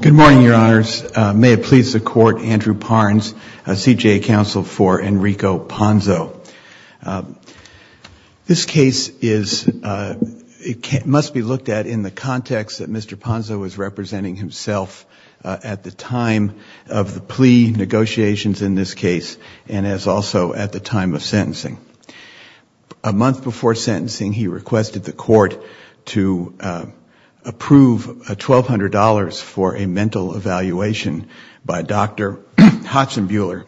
Good morning, Your Honors. May it please the Court, Andrew Parnes, CJA Counsel for Enrico Ponzo. This case must be looked at in the context that Mr. Ponzo is representing himself at the time of the plea negotiations in this case and as also at the time of sentencing. A month before sentencing, he requested the Court to approve $1,200 for a mental evaluation by Dr. Hodgson-Buehler,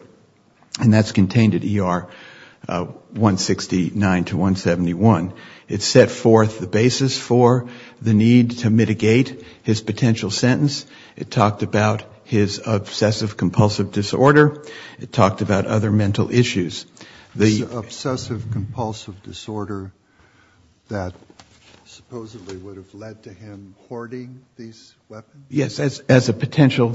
and that's contained at ER 169 to 171. It set forth the basis for the need to mitigate his potential sentence. It talked about his obsessive-compulsive disorder. It talked about other mental issues. This obsessive-compulsive disorder that supposedly would have led to him hoarding these weapons? Yes, as a potential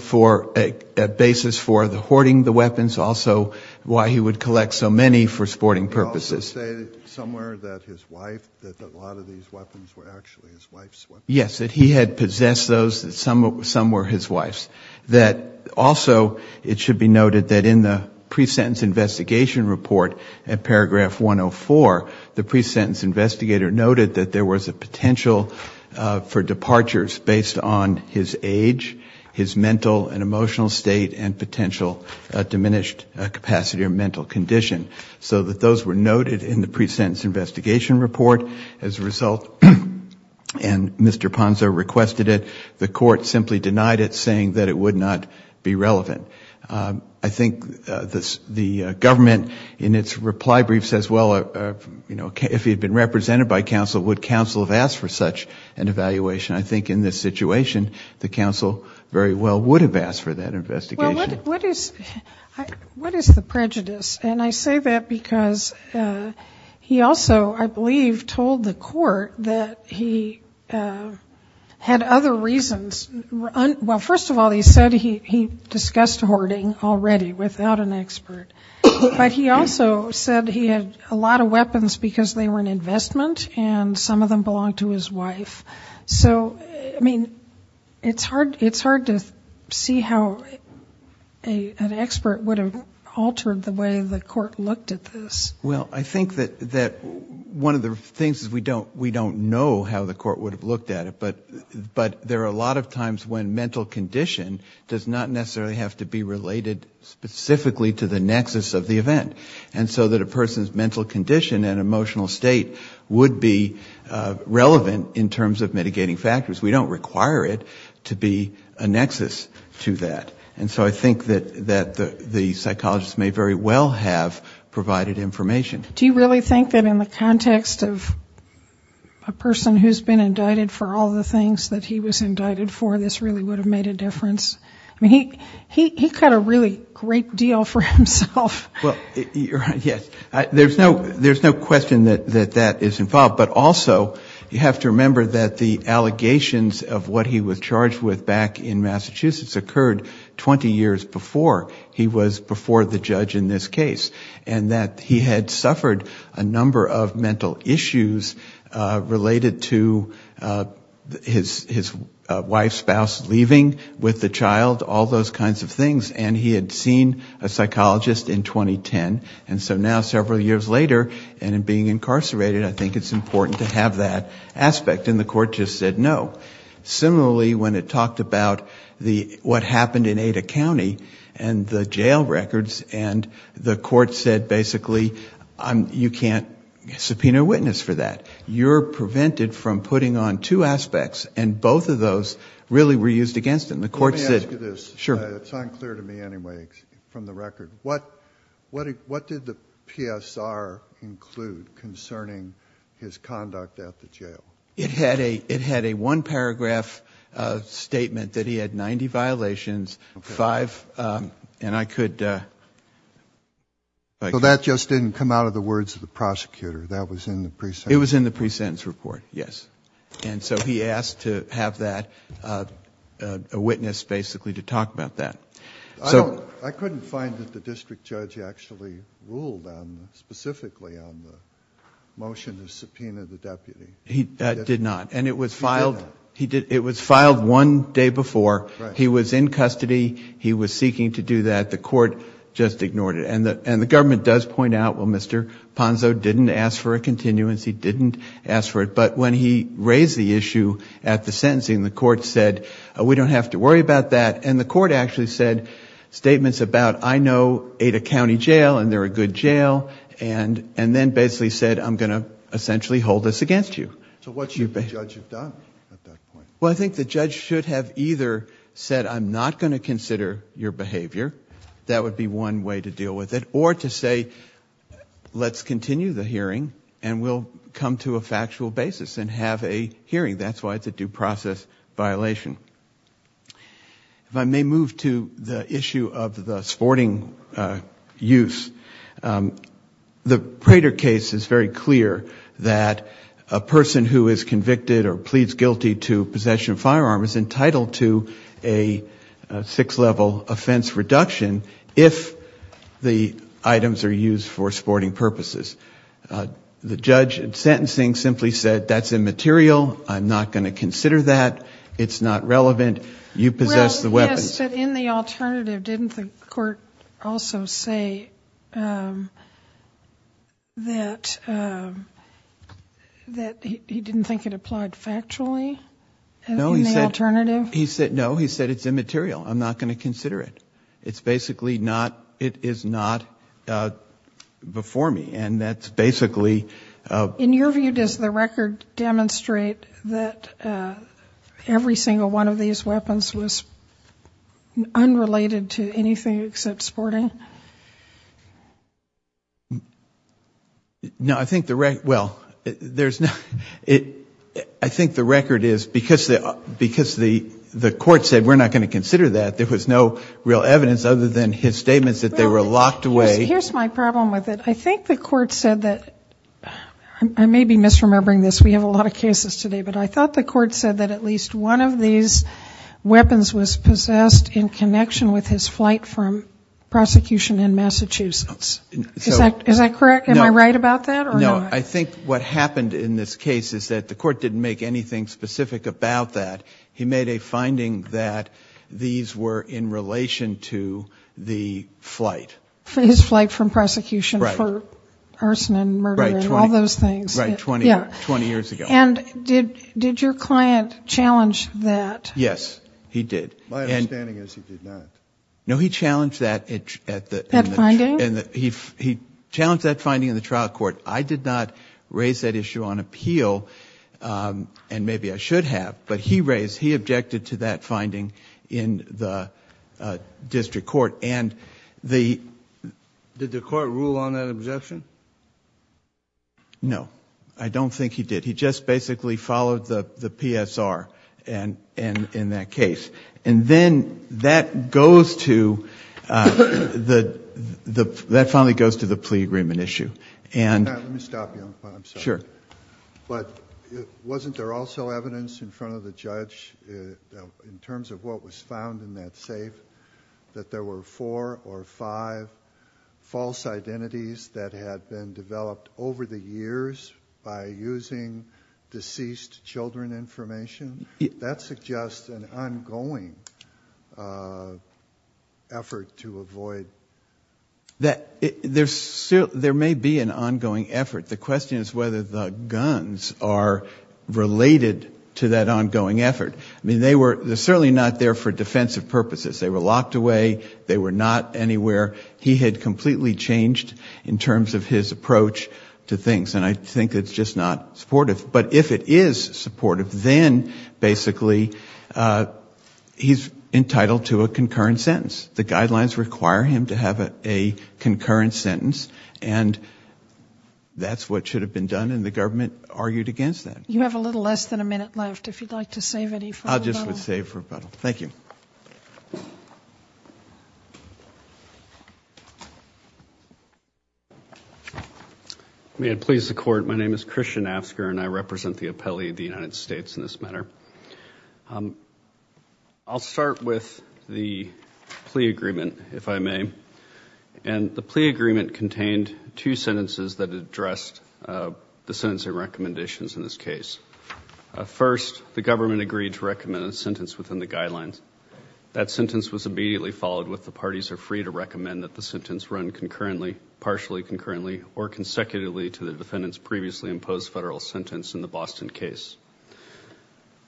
basis for hoarding the weapons, also why he would collect so many for sporting purposes. It also stated somewhere that his wife, that a lot of these weapons were actually his wife's weapons. Yes, that he had possessed those. Some were his wife's. Also, it should be noted that in the pre-sentence investigation report at paragraph 104, the pre-sentence investigator noted that there was a potential for departures based on his age, his mental and emotional state, and potential diminished capacity or mental condition. So that those were noted in the pre-sentence investigation report. As a result, and Mr. Ponzo requested it, the Court simply denied it, saying that it would not be relevant. I think the government, in its reply brief, says, well, you know, if he had been represented by counsel, would counsel have asked for such an evaluation? I think in this situation, the counsel very well would have asked for that investigation. What is the prejudice? And I say that because he also, I believe, told the Court that he had other reasons. Well, first of all, he said he discussed hoarding already without an expert. But he also said he had a lot of weapons because they were an investment, and some of them belonged to his wife. So, I mean, it's hard to see how an expert would have altered the way the Court looked at this. Well, I think that one of the things is we don't know how the Court would have looked at it. But there are a lot of times when mental condition does not necessarily have to be related specifically to the nexus of the event. And so that a person's mental condition and emotional state would be relevant in terms of mitigating factors. We don't require it to be a nexus to that. And so I think that the psychologist may very well have provided information. Do you really think that in the context of a person who's been indicted for all the things that he was indicted for, this really would have made a difference? I mean, he cut a really great deal for himself. Yes. There's no question that that is involved. But also, you have to remember that the allegations of what he was charged with back in Massachusetts occurred 20 years before he was before the judge in this case. And that he had suffered a number of mental issues related to his wife's spouse leaving with the child, all those kinds of things. And he had seen a psychologist in 2010. And so now, several years later, and in being incarcerated, I think it's important to have that aspect. And the court just said no. Similarly, when it talked about what happened in Ada County and the jail records, and the court said basically, you can't subpoena a witness for that. You're prevented from putting on two aspects. And both of those really were used against him. Let me ask you this. It's unclear to me anyway, from the record. What did the PSR include concerning his conduct at the jail? It had a one-paragraph statement that he had 90 violations, five, and I could... So that just didn't come out of the words of the prosecutor? That was in the pre-sentence? Pre-sentence report, yes. And so he asked to have that, a witness basically, to talk about that. I couldn't find that the district judge actually ruled specifically on the motion to subpoena the deputy. He did not. And it was filed one day before. He was in custody. He was seeking to do that. The court just ignored it. And the government does point out, well, Mr. Ponzo didn't ask for a continuance. He didn't ask for it. But when he raised the issue at the sentencing, the court said, we don't have to worry about that. And the court actually said statements about, I know Ada County Jail, and they're a good jail. And then basically said, I'm going to essentially hold this against you. So what should the judge have done at that point? Well, I think the judge should have either said, I'm not going to consider your behavior, that would be one way to deal with it, or to say, let's continue the hearing and we'll come to a factual basis and have a hearing. That's why it's a due process violation. If I may move to the issue of the sporting use. The Prater case is very clear that a person who is convicted or pleads guilty to possession of a firearm is entitled to a six-level offense reduction, if the items are used for sporting purposes. The judge at sentencing simply said, that's immaterial, I'm not going to consider that, it's not relevant, you possess the weapon. Well, yes, but in the alternative, didn't the court also say that he didn't think it applied factually in the alternative? No, he said it's immaterial, I'm not going to consider it. It's basically not, it is not before me, and that's basically... In your view, does the record demonstrate that every single one of these weapons was unrelated to anything except sporting? No, I think the record, well, there's no, I think the record is, because the court said, we're not going to consider that, there was no real evidence. Other than his statements that they were locked away. Here's my problem with it, I think the court said that, I may be misremembering this, we have a lot of cases today, but I thought the court said that at least one of these weapons was possessed in connection with his flight from prosecution in Massachusetts. Is that correct? Am I right about that? No, I think what happened in this case is that the court didn't make anything specific about that. He made a finding that these were in relation to the flight. His flight from prosecution for arson and murder and all those things. Right, 20 years ago. And did your client challenge that? Yes, he did. My understanding is he did not. No, he challenged that. That finding? He challenged that finding in the trial court. I did not raise that issue on appeal, and maybe I should have, but he raised, he objected to that finding in the district court. Did the court rule on that objection? No, I don't think he did. He just basically followed the PSR in that case. And then that goes to, that finally goes to the plea agreement issue. Let me stop you, I'm sorry. Sure. But wasn't there also evidence in front of the judge in terms of what was found in that safe, that there were four or five false identities that had been identified? That had been developed over the years by using deceased children information? That suggests an ongoing effort to avoid... There may be an ongoing effort. The question is whether the guns are related to that ongoing effort. I mean, they were certainly not there for defensive purposes. They were locked away. They were not anywhere. He had completely changed in terms of his approach to things, and I think it's just not supportive. But if it is supportive, then basically he's entitled to a concurrent sentence. The guidelines require him to have a concurrent sentence, and that's what should have been done, and the government argued against that. You have a little less than a minute left, if you'd like to save any for rebuttal. May it please the court, my name is Christian Asker, and I represent the appellee of the United States in this matter. I'll start with the plea agreement, if I may. And the plea agreement contained two sentences that addressed the sentencing recommendations in this case. First, the government agreed to recommend a sentence within the guidelines. That sentence was immediately followed with the parties are free to recommend that the sentence run concurrently, partially concurrently, or consecutively to the defendant's previously imposed federal sentence in the Boston case.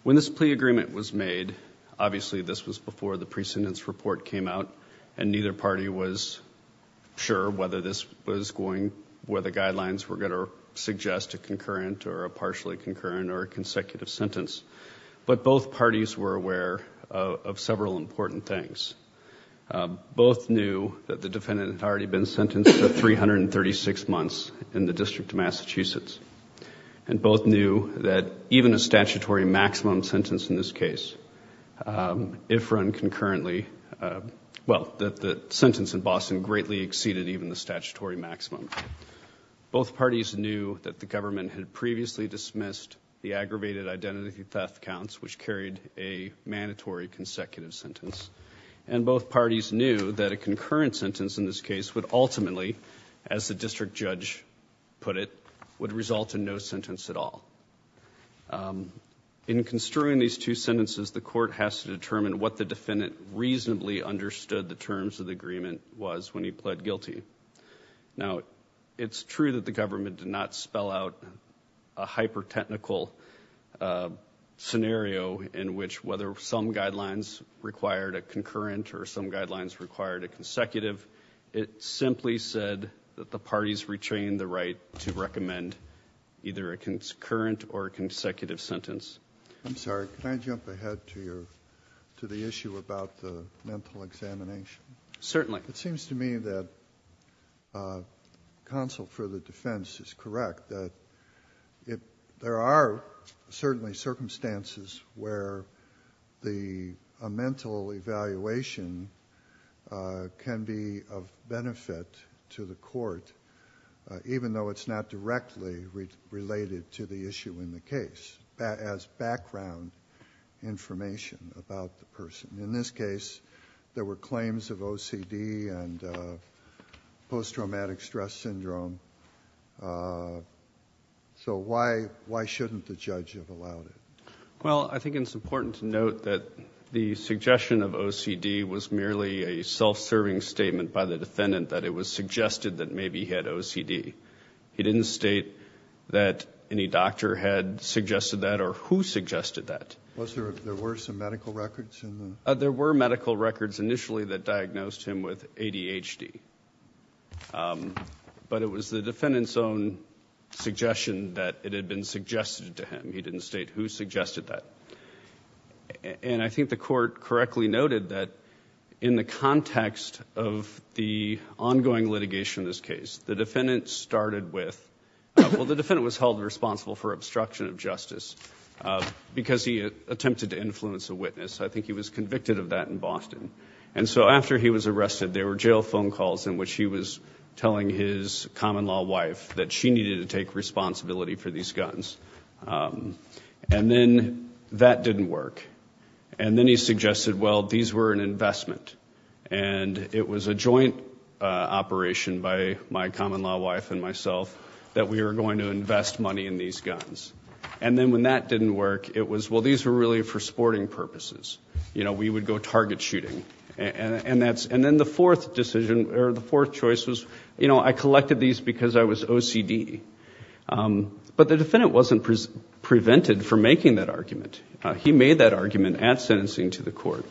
When this plea agreement was made, obviously this was before the precedence report came out, and neither party was sure whether the guidelines were going to suggest a concurrent or a partially concurrent or a consecutive sentence. But both parties were aware of several important things. Both knew that the defendant had already been sentenced to 336 months in the District of Massachusetts, and both knew that even a statutory maximum sentence in this case, if run concurrently, well, that the sentence in Boston greatly exceeded even the statutory maximum. Both parties knew that the government had previously dismissed the aggravated identity theft counts, which carried a mandatory consecutive sentence, and both parties knew that a concurrent sentence in this case would ultimately, as the district judge put it, would result in no sentence at all. In construing these two sentences, the court has to determine what the defendant reasonably understood the terms of the agreement was when he pled guilty. Now, it's true that the government did not spell out a hyper-technical scenario, in which whether some guidelines required a concurrent or some guidelines required a consecutive. It simply said that the parties retained the right to recommend either a concurrent or a consecutive sentence. I'm sorry, can I jump ahead to the issue about the mental examination? Certainly. It seems to me that counsel for the defense is correct, that there are certainly circumstances where a mental evaluation can be of benefit to the court, even though it's not directly related to the issue in the case, as background information about the person. In this case, there were claims of OCD and post-traumatic stress syndrome. So why shouldn't the judge have allowed it? Well, I think it's important to note that the suggestion of OCD was merely a self-serving statement by the defendant that it was suggested that maybe he had OCD. He didn't state that any doctor had suggested that or who suggested that. There were some medical records? There were medical records initially that diagnosed him with ADHD. But it was the defendant's own suggestion that it had been suggested to him. He didn't state who suggested that. And I think the court correctly noted that in the context of the ongoing litigation in this case, the defendant was held responsible for obstruction of justice because he attempted to influence a witness. I think he was convicted of that in Boston. And so after he was arrested, there were jail phone calls in which he was telling his common-law wife that she needed to take responsibility for these guns. And then that didn't work. And then he suggested, well, these were an investment. And it was a joint operation by my common-law wife and myself that we were going to invest money in these guns. And then when that didn't work, it was, well, these were really for sporting purposes. You know, we would go target shooting. And then the fourth decision or the fourth choice was, you know, I collected these because I was OCD. But the defendant wasn't prevented from making that argument. He made that argument at sentencing to the court,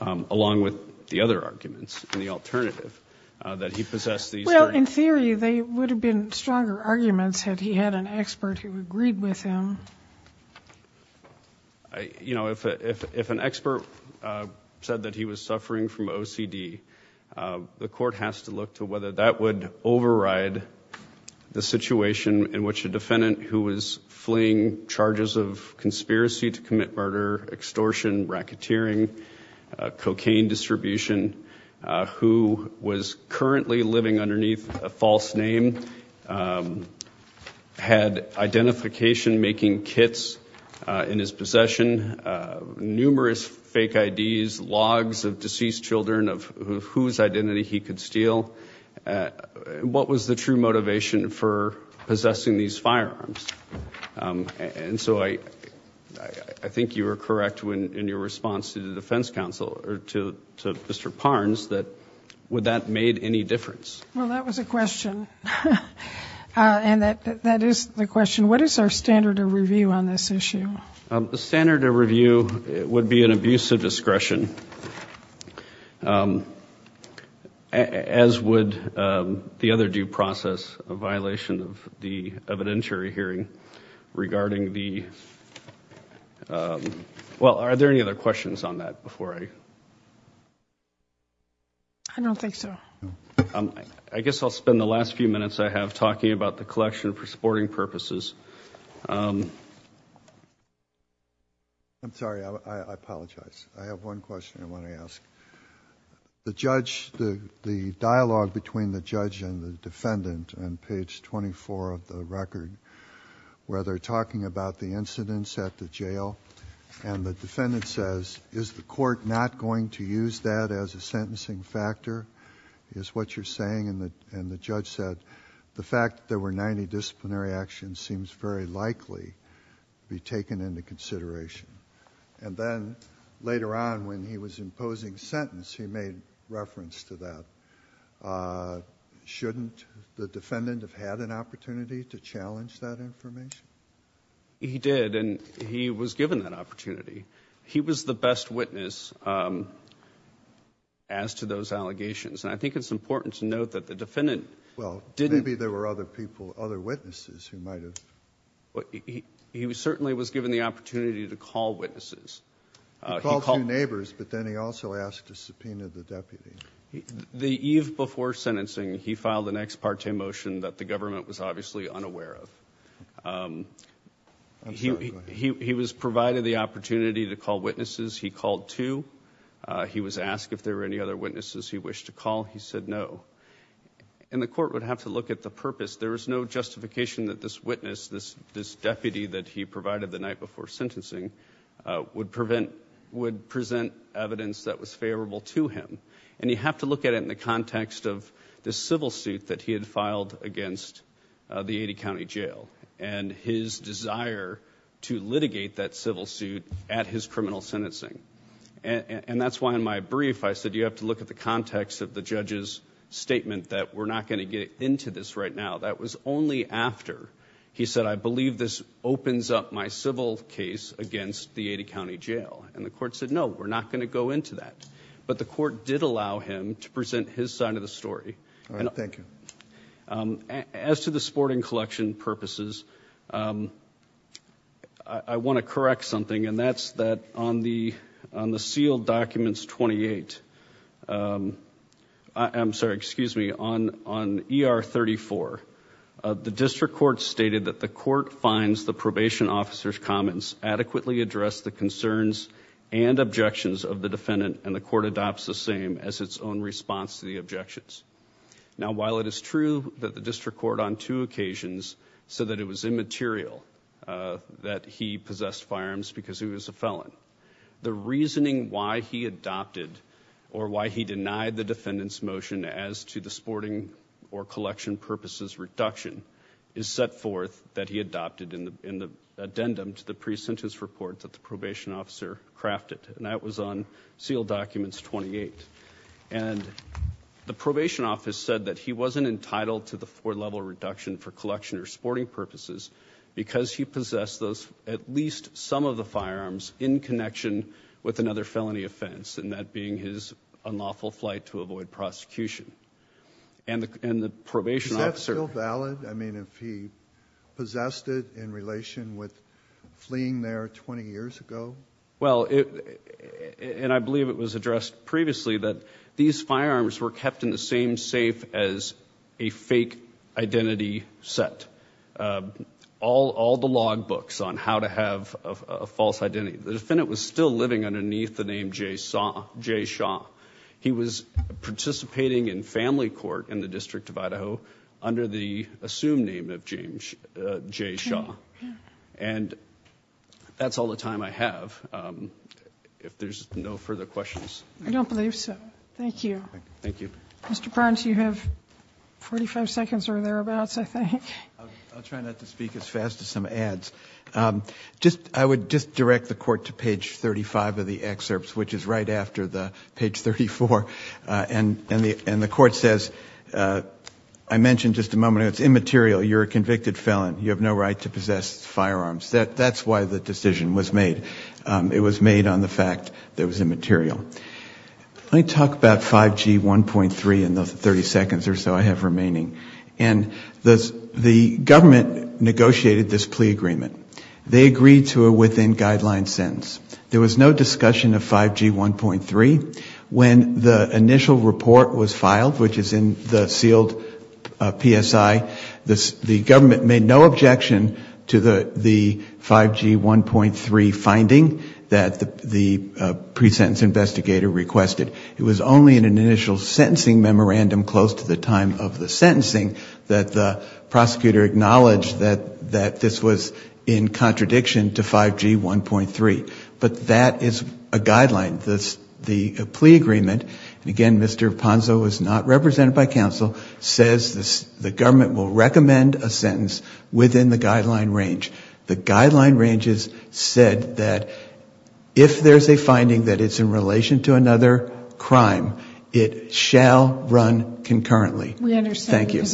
along with the other arguments and the alternative that he possessed these guns. Well, in theory, they would have been stronger arguments had he had an expert who agreed with him. You know, if an expert said that he was suffering from OCD, the court has to look to whether that would override the situation in which a defendant who was fleeing charges of conspiracy to commit murder, extortion, racketeering, cocaine distribution, who was currently living underneath a false name, had identification-making kits in his possession, numerous fake IDs, logs of deceased children of OCD, whose identity he could steal. What was the true motivation for possessing these firearms? And so I think you were correct in your response to the defense counsel, or to Mr. Parnes, that that made any difference. Well, that was a question. And that is the question. What is our standard of review on this issue? The standard of review would be an abuse of discretion, as would the other due process, a violation of the evidentiary hearing regarding the... Well, are there any other questions on that before I... I don't think so. I guess I'll spend the last few minutes I have talking about the collection for supporting purposes. I'm sorry. I apologize. I have one question I want to ask. The dialogue between the judge and the defendant on page 24 of the record, where they're talking about the incidents at the jail, and the defendant says, is the court not going to use that as a sentencing factor, is what you're saying. And the judge said, the fact there were 90 disciplinary actions seems very likely to be taken into consideration. And then later on, when he was imposing sentence, he made reference to that. Shouldn't the defendant have had an opportunity to challenge that information? He did, and he was given that opportunity. He was the best witness as to those allegations, and I think it's important to note that the defendant... Well, maybe there were other people, other witnesses who might have... He certainly was given the opportunity to call witnesses. He called two neighbors, but then he also asked a subpoena of the deputy. The eve before sentencing, he filed an ex parte motion that the government was obviously unaware of. He was provided the opportunity to call witnesses. He called two. He was asked if there were any other witnesses he wished to call. He said no. And the court would have to look at the purpose. There was no justification that this witness, this deputy that he provided the night before sentencing, would present evidence that was favorable to him. And you have to look at it in the context of the civil suit that he had filed against the 80 County Jail, and his desire to litigate that civil suit at his criminal sentencing. And that's why in my brief, I said you have to look at the context of the judge's statement that we're not going to get into this right now. That was only after he said, I believe this opens up my civil case against the 80 County Jail. And the court said, no, we're not going to go into that. But the court did allow him to present his side of the story. All right. Thank you. As to the sporting collection purposes, I want to correct something. And that's that on the sealed documents 28, I'm sorry, excuse me, on ER 34, the district court stated that the court finds the probation officer's comments adequately address the concerns and objections of the defendant and the court adopts the same as its own response to the objections. Now, while it is true that the district court on two occasions said that it was immaterial that he possessed firearms because he was a felon, the reasoning why he adopted or why he denied the defendant's motion as to the sporting or collection purposes reduction is set forth that he adopted in the addendum to the pre-sentence report that the probation officer crafted. And that was on sealed documents 28. And the probation office said that he wasn't entitled to the four level reduction for collection or sporting purposes because he possessed those, at least some of the firearms in connection with another felony offense. And that being his unlawful flight to avoid prosecution and the probation officer. Is that still valid? I mean, if he possessed it in relation with fleeing there 20 years ago? Well, and I believe it was addressed previously that these firearms were kept in the same safe as a fake identity set. All the log books on how to have a false identity. The defendant was still living underneath the name Jay Shaw. He was participating in family court in the District of Idaho under the assumed name of Jay Shaw. And that's all the time I have. If there's no further questions. I don't believe so. Thank you. Mr. Barnes, you have 45 seconds or thereabouts, I think. I'll try not to speak as fast as some ads. I would just direct the court to page 35 of the excerpts, which is right after page 34. And the court says, I mentioned just a moment ago, it's immaterial, you're a convicted felon. You have no right to possess firearms. That's why the decision was made. It was made on the fact that it was immaterial. Let me talk about 5G 1.3 in the 30 seconds or so I have remaining. And the government negotiated this plea agreement. They agreed to a within guideline sentence. There was no discussion of 5G 1.3. When the initial report was filed, which is in the sealed PSI, the government made no objection to the 5G 1.3 finding that the pre-sentence investigator requested. It was only in an initial sentencing memorandum close to the time of the sentencing that the prosecutor acknowledged that this was immaterial. In contradiction to 5G 1.3. But that is a guideline. The plea agreement, again, Mr. Ponzo is not represented by counsel, says the government will recommend a sentence within the guideline range. The guideline range is said that if there's a finding that it's in relation to another crime, it shall run concurrently. Thank you.